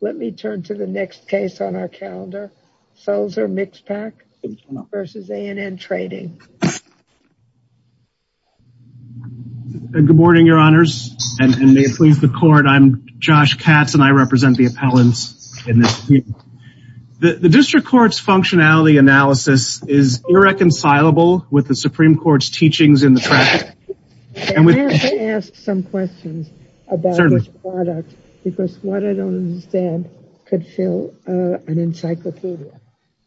Let me turn to the next case on our calendar Solzer Mixpac versus A and N Trading. Good morning your honors and may it please the court I'm Josh Katz and I represent the appellants in this. The district court's functionality analysis is irreconcilable with the Supreme could fill an encyclopedia.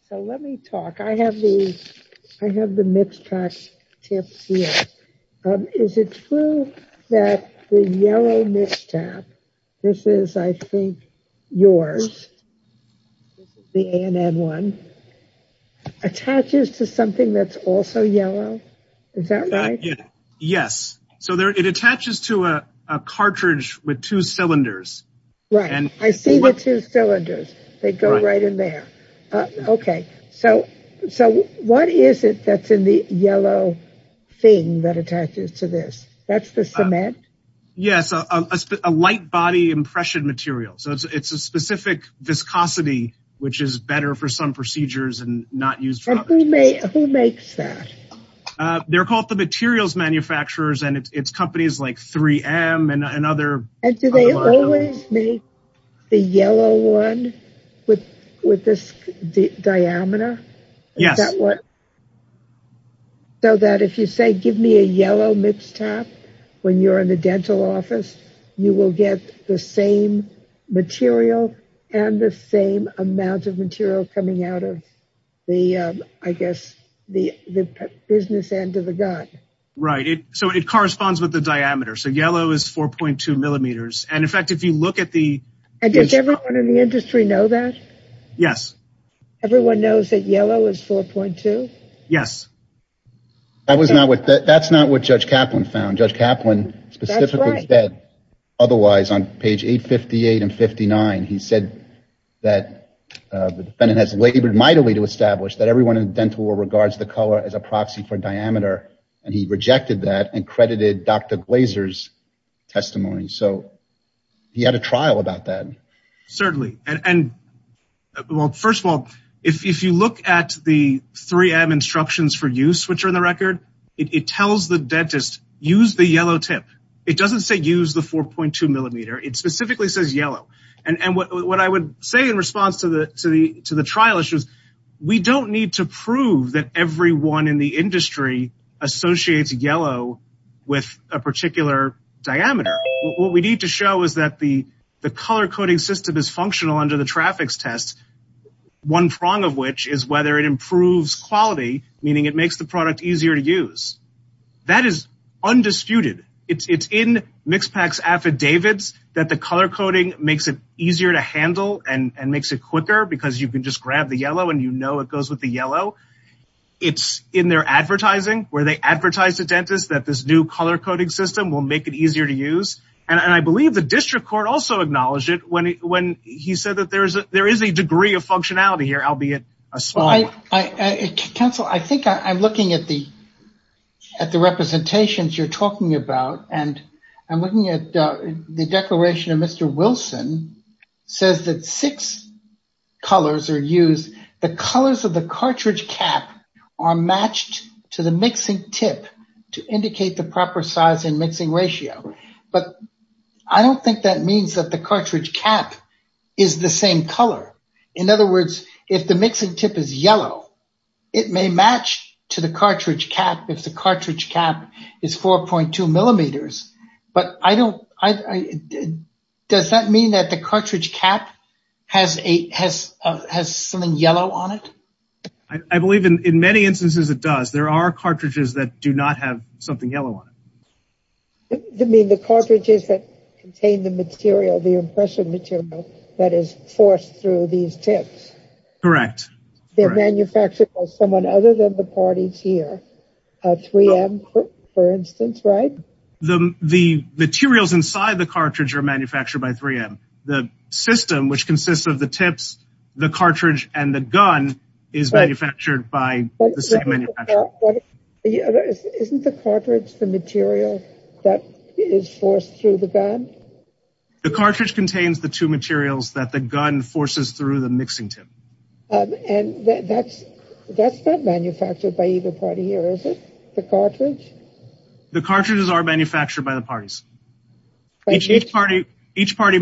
So let me talk. I have the Mixpac tips here. Is it true that the yellow Mixpac, this is I think yours, the A and N one, attaches to something that's also yellow? Is that right? Yes, so there it attaches to a cartridge with two cylinders. Right, I see the two cylinders. They go right in there. Okay, so what is it that's in the yellow thing that attaches to this? That's the cement? Yes, a light body impression material. So it's a specific viscosity which is better for some procedures and not used. Who makes that? They're called the materials manufacturers and it's and do they always make the yellow one with this diameter? Yes. So that if you say give me a yellow Mixpac when you're in the dental office you will get the same material and the same amount of material coming out of the I guess the business end of the gun. Right, it so it corresponds with the diameter. So yellow is 4.2 millimeters and in fact if you look at the and does everyone in the industry know that? Yes. Everyone knows that yellow is 4.2? Yes. That was not what that's not what Judge Kaplan found. Judge Kaplan specifically said otherwise on page 858 and 59 he said that the defendant has labored mightily to establish that everyone in the dental world regards the color as a proxy for diameter and he rejected that and credited Dr. Glazer's testimony. So he had a trial about that. Certainly and well first of all if you look at the 3M instructions for use which are in the record it tells the dentist use the yellow tip. It doesn't say use the 4.2 millimeter. It specifically says yellow and what I would say in response to the to the to the trial issues we don't need to prove that everyone in the industry associates yellow with a particular diameter. What we need to show is that the the color coding system is functional under the traffics test. One prong of which is whether it improves quality meaning it makes the product easier to use. That is undisputed. It's in MixPak's affidavits that the color coding makes it easier to handle and makes it quicker because you can just grab the yellow and you know it goes with the yellow. It's in their advertising where they advertise to dentists that this new color coding system will make it easier to use and I believe the district court also acknowledged it when he said that there is a degree of functionality here albeit a small one. Counsel I think I'm looking at the at the representations you're talking about and I'm looking at the declaration of Mr. Wilson says that six colors are used the colors of the cartridge cap are matched to the mixing tip to indicate the proper size and mixing ratio but I don't think that means that the cartridge cap is the same color. In other words if the mixing tip is yellow it may match to the cartridge cap if the cartridge cap is 4.2 millimeters but I don't I does that mean that the cartridge cap has a has something yellow on it? I believe in many instances it does there are cartridges that do not have something yellow on it. You mean the cartridges that contain the material the impression material that is forced through these tips? Correct. They're manufactured by someone other than the parties here a 3m for instance right? The the materials inside the cartridge are manufactured by 3m the system which consists of the tips the cartridge and the gun is manufactured by isn't the cartridge the material that is forced through the gun? The cartridge contains the two is it the cartridge the cartridges are manufactured by the parties each party each party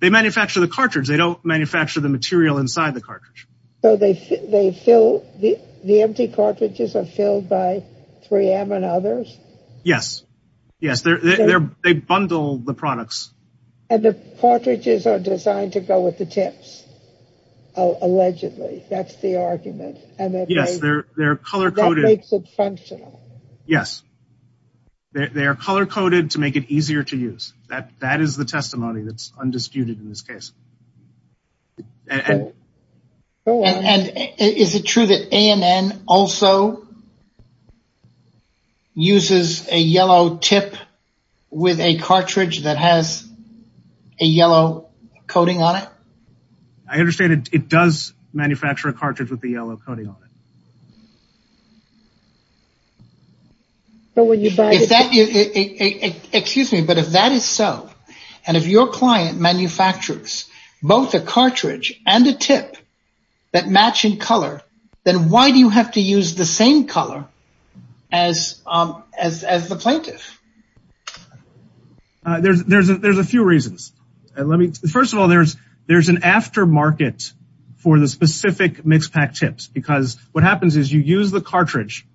they manufacture the cartridge they don't manufacture the material inside the cartridge so they they fill the the empty cartridges are filled by 3m and others yes yes they're they're they bundle the products and the cartridges are designed to go with the tips oh allegedly that's the argument and yes they're they're color-coded that makes it functional yes they are color-coded to make it easier to use that that is the testimony that's undisputed in this case and and is it true that amn also uses a yellow tip with a cartridge that has a yellow coating on it? I understand it does manufacture a cartridge with the yellow coating on it but when you buy if that excuse me but if that is so and if your client manufactures both a as um as as the plaintiff uh there's there's a there's a few reasons and let me first of all there's there's an after market for the specific mix pack tips because what happens is you use the cartridge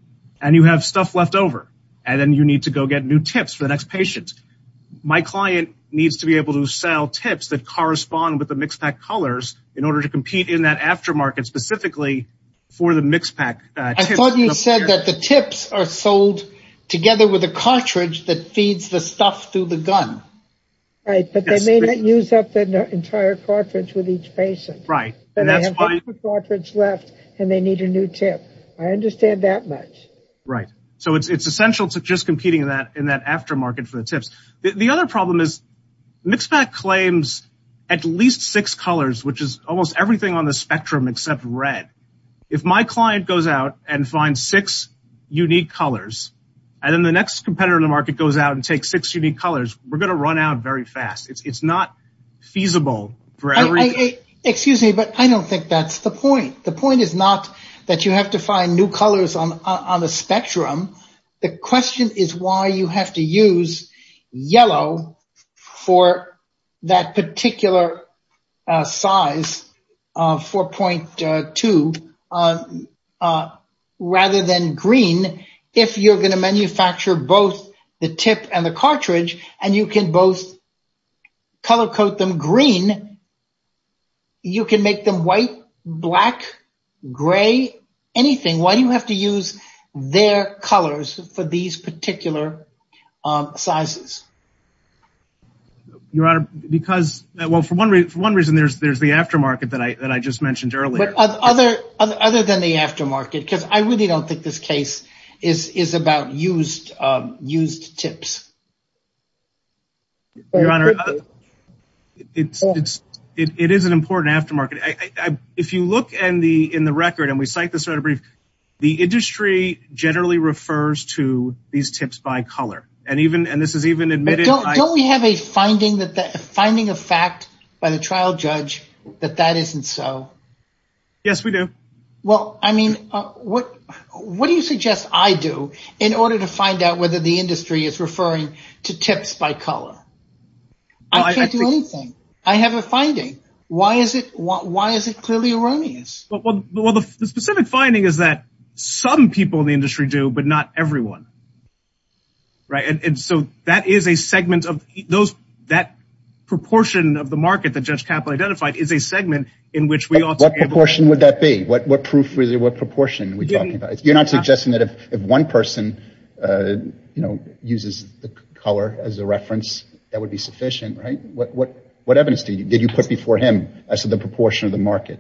and you have stuff left over and then you need to go get new tips for the next patient my client needs to be able to sell tips that correspond with the mix pack colors in order to compete in that after specifically for the mix pack. I thought you said that the tips are sold together with a cartridge that feeds the stuff through the gun right but they may not use up the entire cartridge with each patient right and they have four cartridges left and they need a new tip I understand that much right so it's it's essential to just competing in that in that aftermarket for the tips the other problem is mix pack claims at least six colors which is almost everything on the spectrum except red if my client goes out and finds six unique colors and then the next competitor in the market goes out and takes six unique colors we're going to run out very fast it's not feasible for everything excuse me but I don't think that's the point the point is not that you have to find new colors on on the spectrum the question is why you have to use yellow for that particular size of 4.2 rather than green if you're going to manufacture both the tip and the cartridge and you can both their colors for these particular sizes your honor because well for one for one reason there's there's the aftermarket that I that I just mentioned earlier but other other than the aftermarket because I really don't think this case is is about used used tips your honor it's it's it is an important aftermarket I I if you look and the in the record and we cite this sort of brief the industry generally refers to these tips by color and even and this is even admitted don't we have a finding that the finding of fact by the trial judge that that isn't so yes we do well I mean what what do you suggest I do in order to find out whether the industry is referring to tips by color I can't do anything I have a finding why is it why is it clearly erroneous well the specific finding is that some people in the industry do but not everyone right and so that is a segment of those that proportion of the market that judge capital identified is a segment in which we ought what proportion would that be what what proof really what proportion we're talking about you're not suggesting that if if one person uh you know uses the color as a reference that would be sufficient right what what evidence did you put before him I said the proportion of the market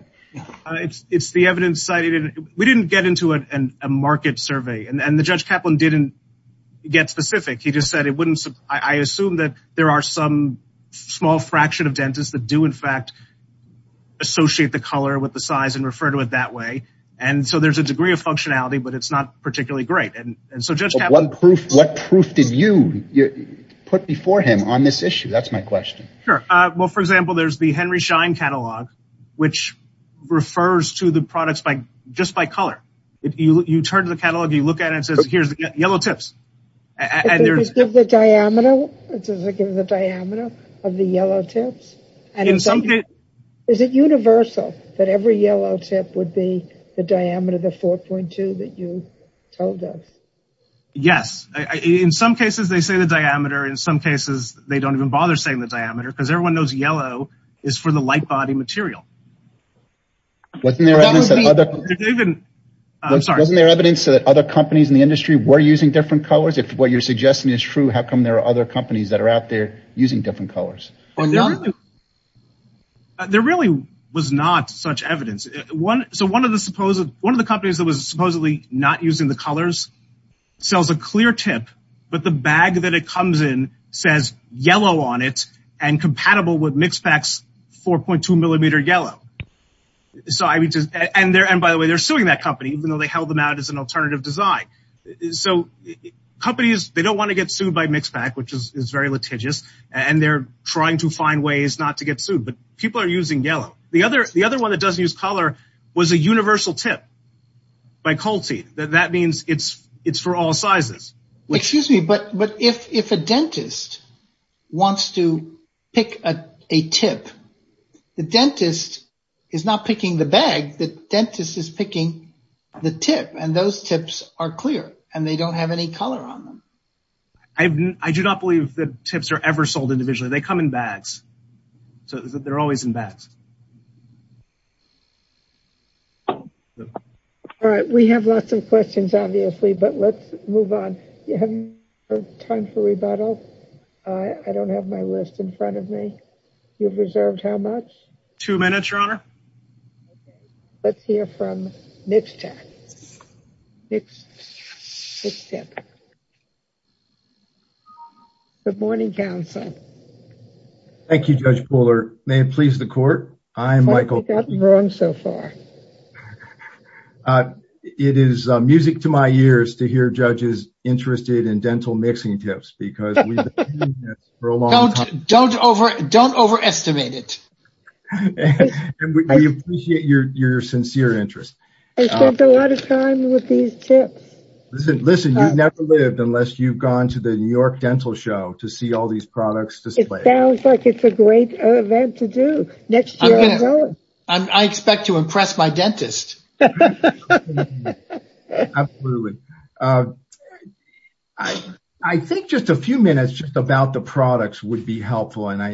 it's it's the evidence cited we didn't get into a market survey and the judge Kaplan didn't get specific he just said it wouldn't I assume that there are some small fraction of dentists that do in fact associate the color with the size and refer to it that way and so there's a degree of functionality but it's not particularly great and so just what proof what proof did you put before him on this issue that's my question sure uh well for example there's the Henry Schein catalog which refers to the products by just by color if you you turn to the catalog you look at it says here's the yellow tips and there's the diameter which is the diameter of the yellow tips and in some case is it universal that every yellow tip would be the diameter the 4.2 that you told us yes in some cases they say the diameter because everyone knows yellow is for the light body material wasn't there evidence I'm sorry wasn't there evidence that other companies in the industry were using different colors if what you're suggesting is true how come there are other companies that are out there using different colors there really was not such evidence one so one of the supposed one of the companies that was supposedly not using the colors sells a clear tip but the bag that it comes in says yellow on it and compatible with mix packs 4.2 millimeter yellow so I mean just and there and by the way they're suing that company even though they held them out as an alternative design so companies they don't want to get sued by mix pack which is very litigious and they're trying to find ways not to get sued but people are using yellow the other the other one that doesn't use color was a universal tip by Colty that means it's it's for all sizes excuse me but but if if a dentist wants to pick a tip the dentist is not picking the bag the dentist is picking the tip and those tips are clear and they don't have any color on them I do not believe that tips are ever sold individually they come in bags so they're always in bags all right we have lots of questions obviously but let's move on you have time for rebuttal I don't have my list in front of me you've reserved how much two minutes your honor let's hear from next time it's tip good morning counsel thank you judge puller may it please the court I'm Michael wrong so far it is music to my ears to hear judges interested in dental mixing tips because don't over don't overestimate it and we appreciate your your sincere interest I spent a lot of time with these tips listen listen you've never lived unless you've gone to the New York dental show to see all these products display it sounds like it's a great event to do next year I expect to impress my dentist absolutely I think just a few minutes just about the products would be helpful and I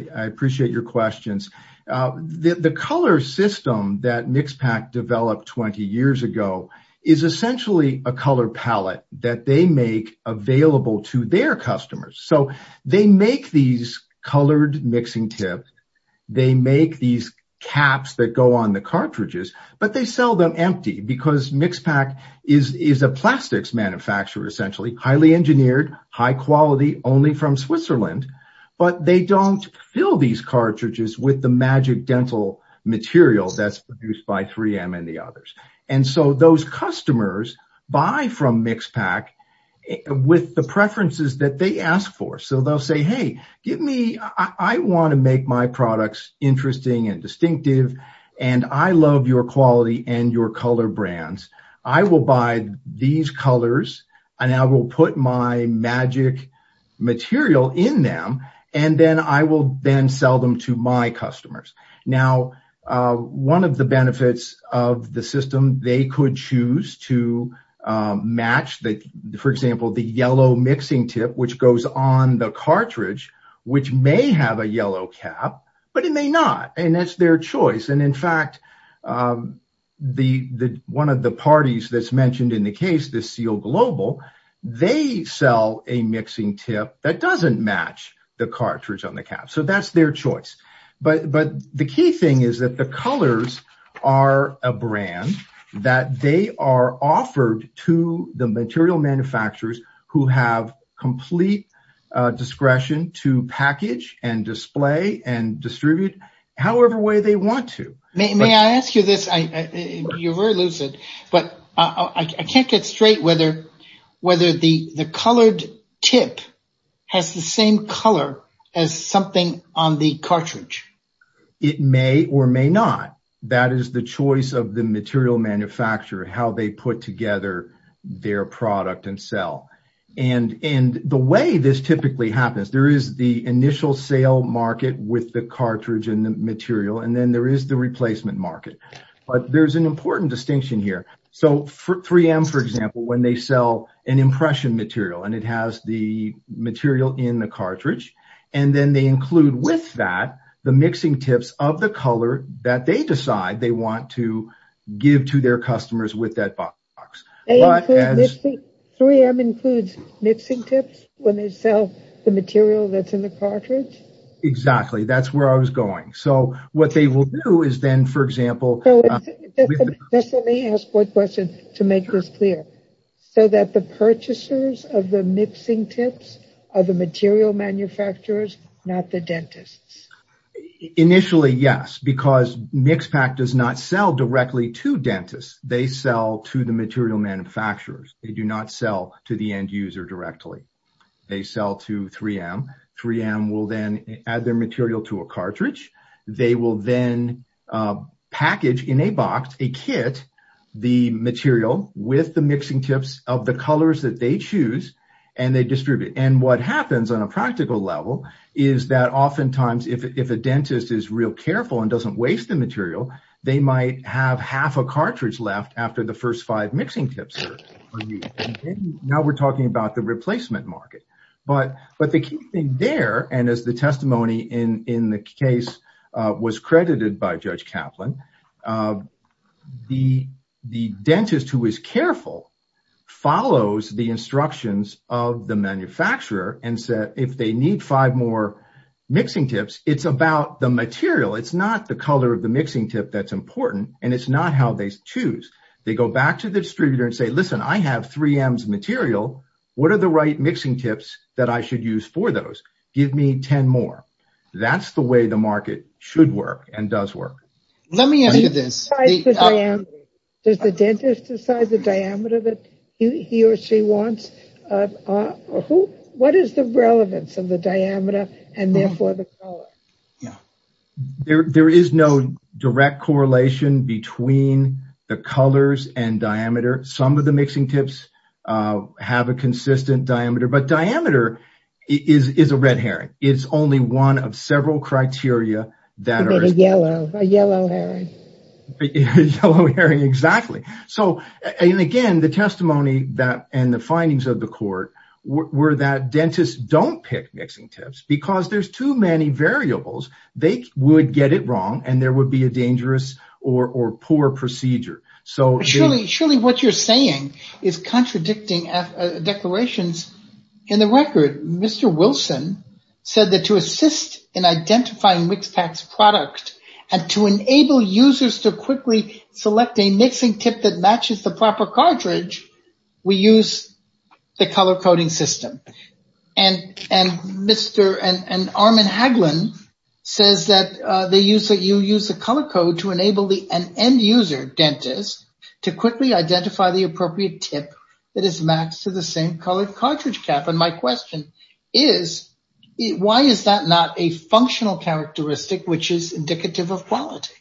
is essentially a color palette that they make available to their customers so they make these colored mixing tips they make these caps that go on the cartridges but they sell them empty because mix pack is is a plastics manufacturer essentially highly engineered high quality only from Switzerland but they don't fill these cartridges with the magic dental material that's produced by 3m and the others and so those customers buy from mix pack with the preferences that they ask for so they'll say hey give me I want to make my products interesting and distinctive and I love your quality and your color brands I will buy these colors and I will put my magic material in them and then I will then sell them to my customers now one of the benefits of the system they could choose to match that for example the yellow mixing tip which goes on the cartridge which may have a yellow cap but it may not and that's their choice and in fact the one of the parties that's mentioned in the case this seal global they sell a mixing tip that doesn't match the cartridge on the cap so that's their choice but but the key thing is that the colors are a brand that they are offered to the material manufacturers who have complete uh discretion to package and display and distribute however way they want to may I ask you this I you're very lucid but I can't get straight whether whether the the colored tip has the same color as something on the cartridge it may or may not that is the choice of the material manufacturer how they put together their product and sell and and the way this typically happens there is the initial sale market with the cartridge and the material and then there is the replacement market but there's an important distinction here so for 3m for example when they sell an impression material and it has the material in the cartridge and then they include with that the mixing tips of the color that they decide they want to give to their customers with that box 3m includes mixing tips when they sell the material that's in the cartridge exactly that's where I was going so what they will do then for example let me ask one question to make this clear so that the purchasers of the mixing tips are the material manufacturers not the dentists initially yes because mix pack does not sell directly to dentists they sell to the material manufacturers they do not sell to the end user directly they sell to 3m 3m will then add their material to a cartridge they will then package in a box a kit the material with the mixing tips of the colors that they choose and they distribute and what happens on a practical level is that oftentimes if a dentist is real careful and doesn't waste the material they might have half a cartridge left after the first five mixing tips now we're talking about the replacement market but but the key thing there and as the testimony in in the case was credited by Judge Kaplan the the dentist who is careful follows the instructions of the manufacturer and said if they need five more mixing tips it's about the material it's not the color of the mixing tip that's important and it's not how they choose they go back to the distributor and say listen I have 3ms material what are the right mixing tips that I should use for those give me 10 more that's the way the market should work and does work let me ask you this does the dentist decide the diameter that he or she wants uh who what is the relevance of the diameter and therefore the color yeah there there is no direct correlation between the colors and diameter some of the mixing tips uh have a consistent diameter but diameter is is a red herring it's only one of several criteria that are yellow a yellow herring yellow herring exactly so and again the testimony that and the findings of the court were that dentists don't pick mixing tips because there's too many variables they would get it wrong and there would be a dangerous or or poor procedure so surely surely what you're saying is contradicting declarations in the record Mr. Wilson said that to assist in identifying Wixpax product and to enable users to quickly select a mixing tip that matches the proper cartridge we use the color coding system and and Mr. and and Armin Hagelin says that uh they use that you use the color code to enable the an end user dentist to quickly identify the appropriate tip that is matched to the same color cartridge cap and my question is why is that not a functional characteristic which is indicative of quality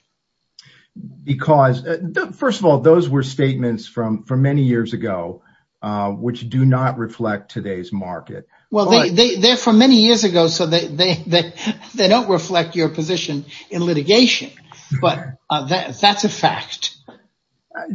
because first of all those were statements from many years ago uh which do not reflect today's market well they they they're from many years ago so they they they don't reflect your position in litigation but uh that's a fact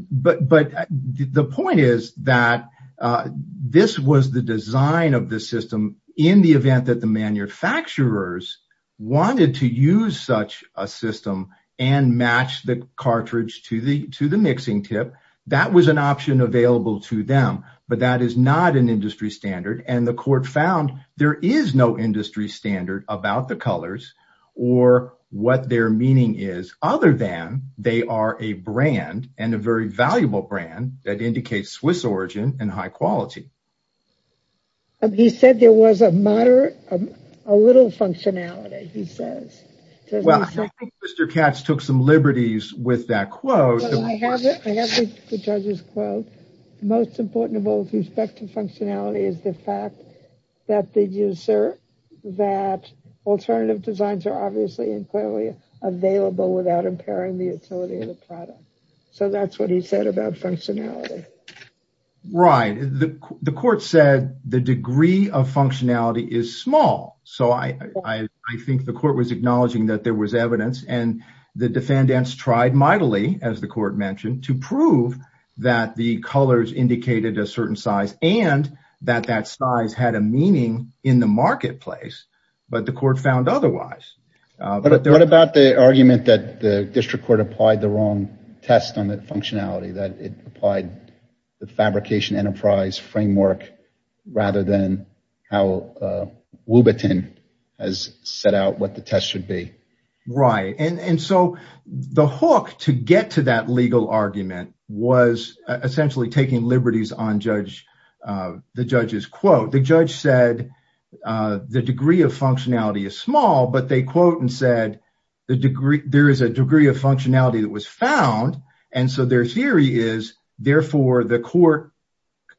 but but the point is that uh this was the design of the system in the event that the manufacturers wanted to use such a system and match the cartridge to the to the mixing tip that was an option available to them but that is not an industry standard and the court found there is no industry standard about the colors or what their meaning is other than they are a brand and a very valuable brand that indicates swiss origin and high quality he said there was a moderate a little functionality he says well mr katz took some liberties with that quote the judge's quote most important of all with respect to functionality is the fact that the user that alternative designs are obviously and clearly available without impairing the utility of the product so that's what he said about functionality right the the court said the degree of functionality is small so i i i think the court was acknowledging that there was evidence and the defendants tried mightily as the court mentioned to prove that the colors indicated a certain size and that that size had a meaning in the marketplace but the court found otherwise but what about the argument that the district court applied the wrong test on the functionality that it applied the fabrication enterprise framework rather than how uh has set out what the test should be right and and so the hook to get to that legal argument was essentially taking liberties on judge uh the judge's quote the judge said uh the degree of functionality is small but they quote and said the degree there is a degree of functionality that was found and so their theory is therefore the court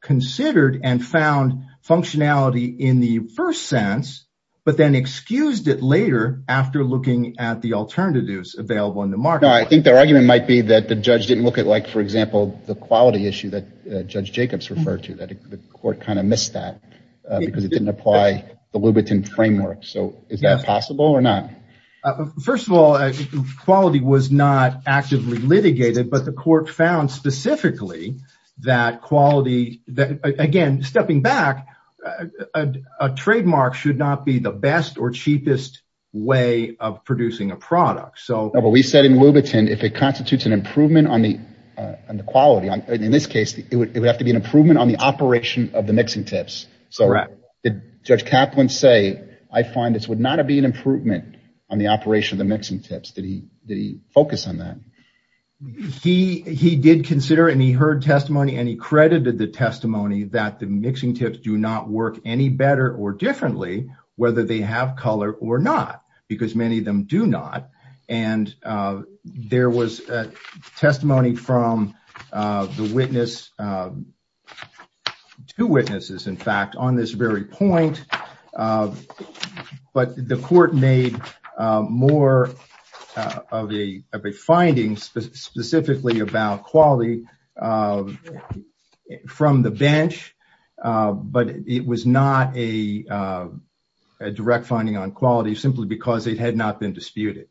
considered and found functionality in the first sense but then excused it later after looking at the alternatives available in the market i think their argument might be that the judge didn't look at like for example the quality issue that judge jacobs referred to that the court kind of missed that because it didn't apply the lubaton framework so is that possible or not first of all quality was not actively litigated but the court found specifically that quality that again stepping back a trademark should not be the best or cheapest way of producing a product so we said in lubaton if it constitutes an improvement on the uh and the quality on in this case it would have to be an improvement on the operation of the mixing tips so right did judge caplan say i find this would not be an improvement on the operation of the mixing tips did he did he focus on that he he did consider and he heard testimony and he credited the testimony that the mixing tips do not work any better or differently whether they have color or not because many of them do not and uh there was a testimony from uh the witness uh two witnesses in fact on this very point uh but the court made uh more of a of a finding specifically about quality from the bench but it was not a direct finding on quality simply because it had not been disputed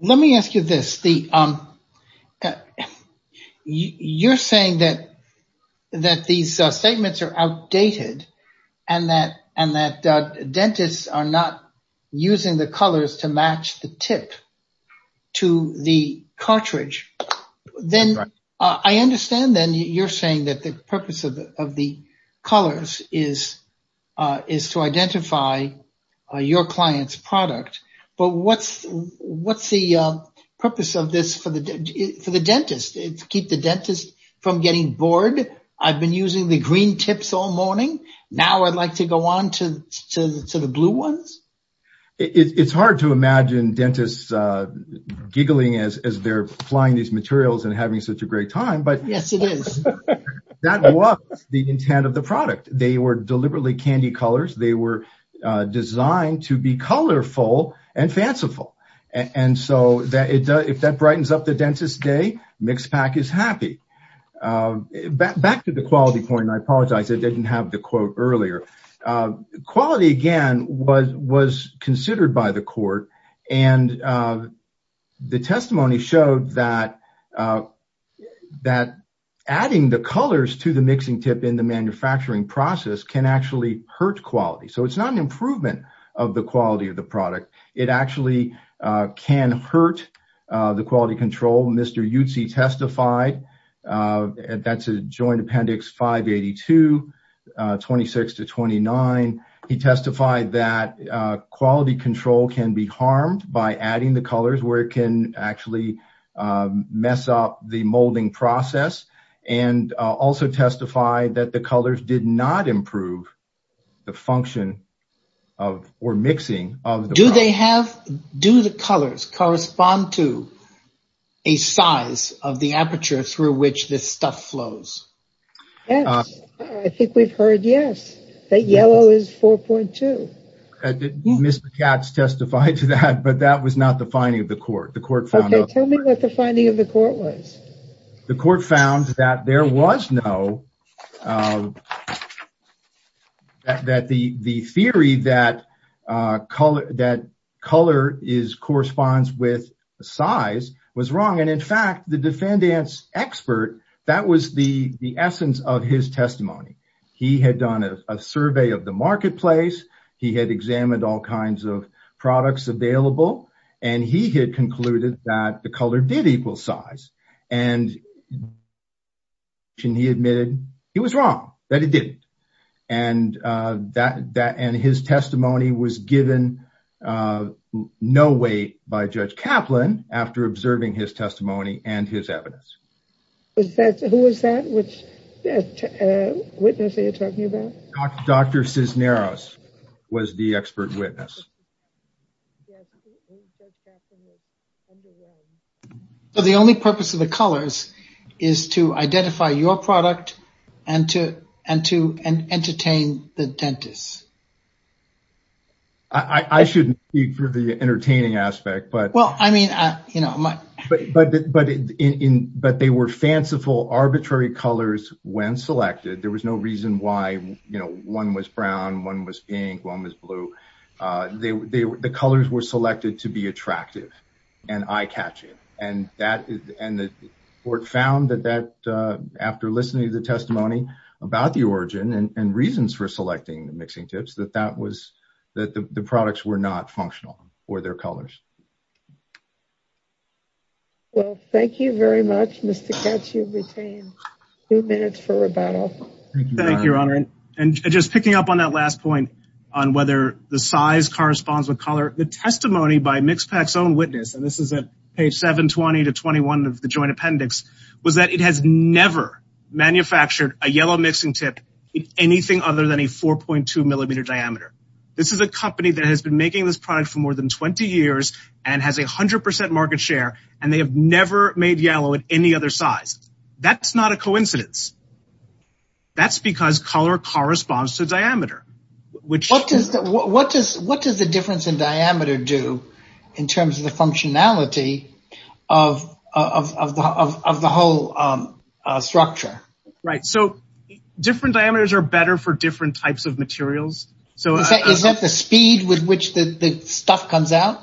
let me ask you this the um you you're saying that that these statements are outdated and that and that dentists are not using the colors to match the tip to the cartridge then i understand then you're saying that the purpose of the of the colors is uh is to identify uh your client's product but what's what's the purpose of this for the for the dentist it's keep the dentist from getting bored i've been using the green tips all morning now i'd like to go on to to the blue ones it's hard to imagine dentists uh giggling as as they're applying these materials and having such a great time but yes it is that was the intent of the product they were deliberately candy colors they were uh designed to be colorful and fanciful and so that it does if that brightens up the dentist day mix pack is happy uh back to the quality point i apologize i didn't have the quote earlier uh quality again was was considered by the court and uh the testimony showed that uh that adding the colors to the mixing tip in the manufacturing process can actually hurt quality so it's not an improvement of the quality of the product it actually uh can hurt uh the quality control mr yutzi testified uh that's a joint appendix 582 26 to 29 he testified that uh quality control can be harmed by adding the colors where it can actually mess up the molding process and also testified that the colors did not improve the function of or mixing of do they have do the colors correspond to a size of the aperture through which this stuff flows yes i think we've heard yes that yellow is 4.2 mr katz testified to that but that was not the finding of the court the court found tell me the finding of the court was the court found that there was no that the the theory that uh color that color is corresponds with the size was wrong and in fact the defendant's expert that was the the essence of his testimony he had done a survey of the marketplace he had examined all kinds of products available and he had concluded that the color did equal size and he admitted he was wrong that he didn't and uh that that and his testimony was given uh no weight by judge kaplan after observing his testimony and his evidence was that who was that which witness are you talking about dr cisneros was the expert witness so the only purpose of the colors is to identify your product and to and to and entertain the dentist i i shouldn't speak for the entertaining aspect but well i mean uh you know my but but but in but they were fanciful arbitrary colors when selected there was no reason why you know one was brown one was pink one was blue uh they the colors were selected to be attractive and eye-catching and that and the court found that that uh after listening to the testimony about the origin and reasons for selecting the mixing tips that that was that the products were not functional for their colors well thank you very much mr ketchum retain two minutes for rebuttal thank you your honor and just picking up on that last point on whether the size corresponds with color the testimony by mixpac's own witness and this is at page 720 to 21 of the joint appendix was that it has never manufactured a yellow mixing tip anything other than a 4.2 millimeter diameter this is a company that has been making this product for more than 20 years and has a hundred percent market share and they have never made yellow at any other size that's not a coincidence that's because color corresponds to diameter which what does what does what does the difference in diameter do in terms of the functionality of of of the whole um uh structure right so different diameters are better for different types of materials so is that the speed with which the the stuff comes out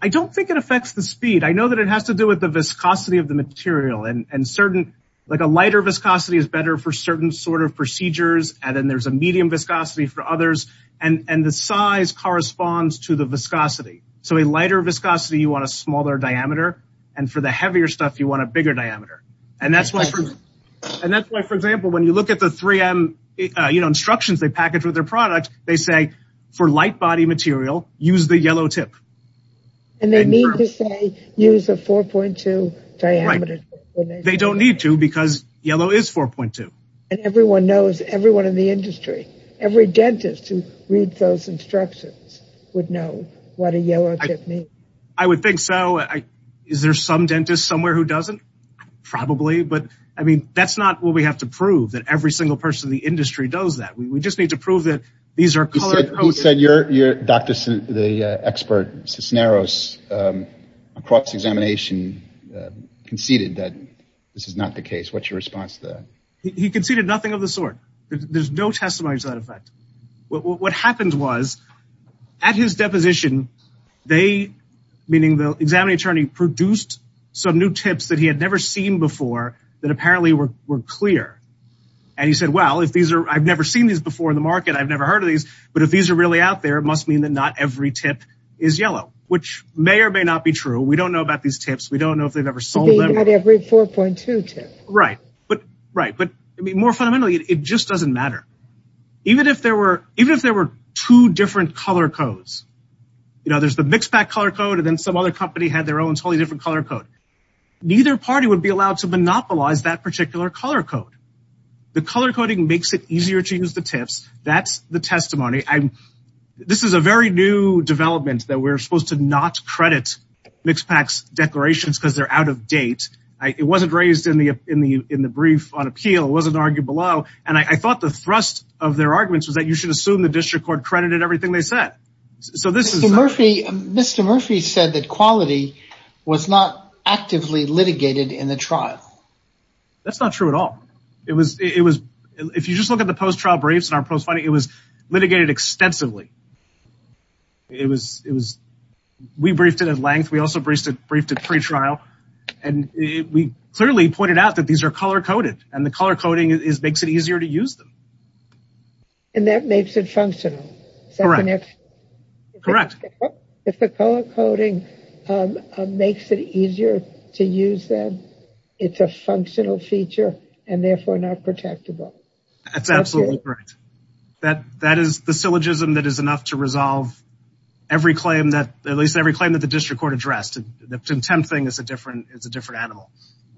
i don't think it affects the speed i know that it has to do with the viscosity of the material and certain like a lighter viscosity is better for certain sort of procedures and then there's a medium viscosity for others and and the size corresponds to the viscosity so a lighter viscosity you want a smaller diameter and for the heavier stuff you want a bigger diameter and that's why and that's why for example when you look at the 3m you know instructions they package with their product they say for light body material use the yellow tip and they need to say use a 4.2 diameter they don't need to because yellow is 4.2 and everyone knows everyone in the industry every dentist who reads those instructions would know what a yellow tip means i would think so i is there some dentist somewhere who doesn't probably but i mean that's not what we have to prove that every single person in the industry does that we just need to prove that these are colored who said you're you're dr the expert cisneros um across examination conceded that this is not the case what's your response to that he conceded nothing of the sort there's no testimony to that effect what what happened was at his deposition they meaning the examining attorney produced some new tips that he had never seen before that apparently were were clear and he said well if these are i've never seen these before in the i've never heard of these but if these are really out there it must mean that not every tip is yellow which may or may not be true we don't know about these tips we don't know if they've ever sold them at every 4.2 tip right but right but i mean more fundamentally it just doesn't matter even if there were even if there were two different color codes you know there's the mixed back color code and then some other company had their own totally different color code neither party would be allowed to monopolize that particular color code the color coding makes it easier to use the tips that's the testimony i'm this is a very new development that we're supposed to not credit mixed packs declarations because they're out of date i it wasn't raised in the in the in the brief on appeal it wasn't argued below and i thought the thrust of their arguments was that you should assume the district court credited everything they said so this is murphy mr murphy said that quality was not actively litigated in the trial that's not true at all it was it was if you just look at the post-trial briefs in our post-fighting it was litigated extensively it was it was we briefed it at length we also briefed it briefed at pre-trial and we clearly pointed out that these are color coded and the color coding is makes it easier to use them and that makes it functional correct correct if the color coding um makes it easier to use them it's a functional feature and therefore not protectable that's absolutely correct that that is the syllogism that is enough to resolve every claim that at least every claim that the district court addressed the contempt thing is a different it's a different animal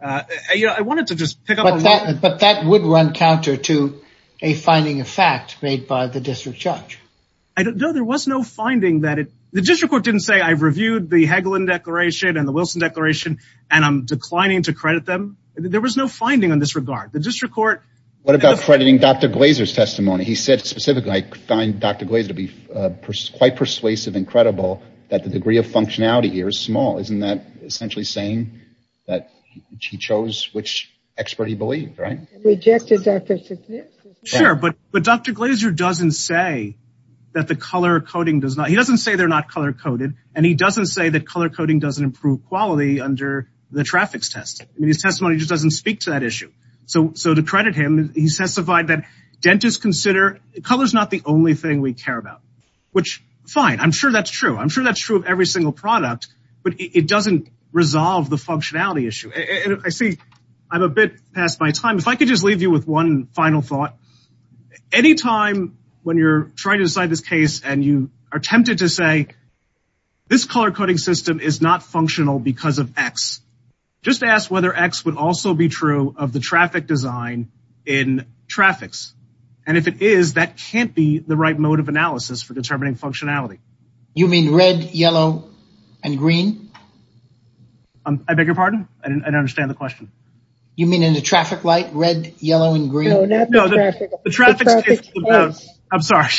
uh you know i wanted to just pick up but that but that would run counter to a finding of fact made by the district judge i don't know there was no finding that it the district court didn't say i've reviewed the hegelin declaration and the wilson declaration and i'm declining to credit them there was no finding on this regard the district court what about crediting dr glazer's testimony he said specifically i find dr glaze to be quite persuasive incredible that the degree of functionality here is small isn't that essentially saying that he chose which expert he believed right rejected dr sure but but dr glazer doesn't say that the color coding does not he doesn't say they're not color coded and he doesn't say that color coding doesn't improve quality under the traffic's test i mean his testimony just doesn't speak to that issue so so to credit him he testified that dentists consider color is not the only thing we care about which fine i'm sure that's true i'm sure that's true of every single product but it doesn't resolve the functionality issue and i see i'm a bit past my time if i could just leave you with one final thought anytime when you're trying to decide this case and you are tempted to say this color coding system is not functional because of x just ask whether x would also be true of the traffic design in traffics and if it is that can't be the right mode of analysis for determining functionality you mean red yellow and green i beg your pardon i don't understand the question you mean in the traffic light red yellow and green i'm sorry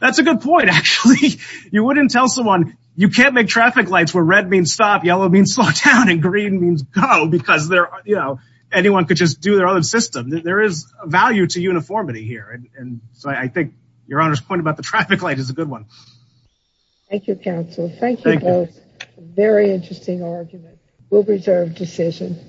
that's a good point actually you wouldn't tell someone you can't make traffic lights where red means stop yellow means slow down and green means go because they're you know anyone could just do their own system there is a value to uniformity here and so i think your honor's point about the traffic light is a good one thank you counsel thank you very interesting argument we'll reserve decision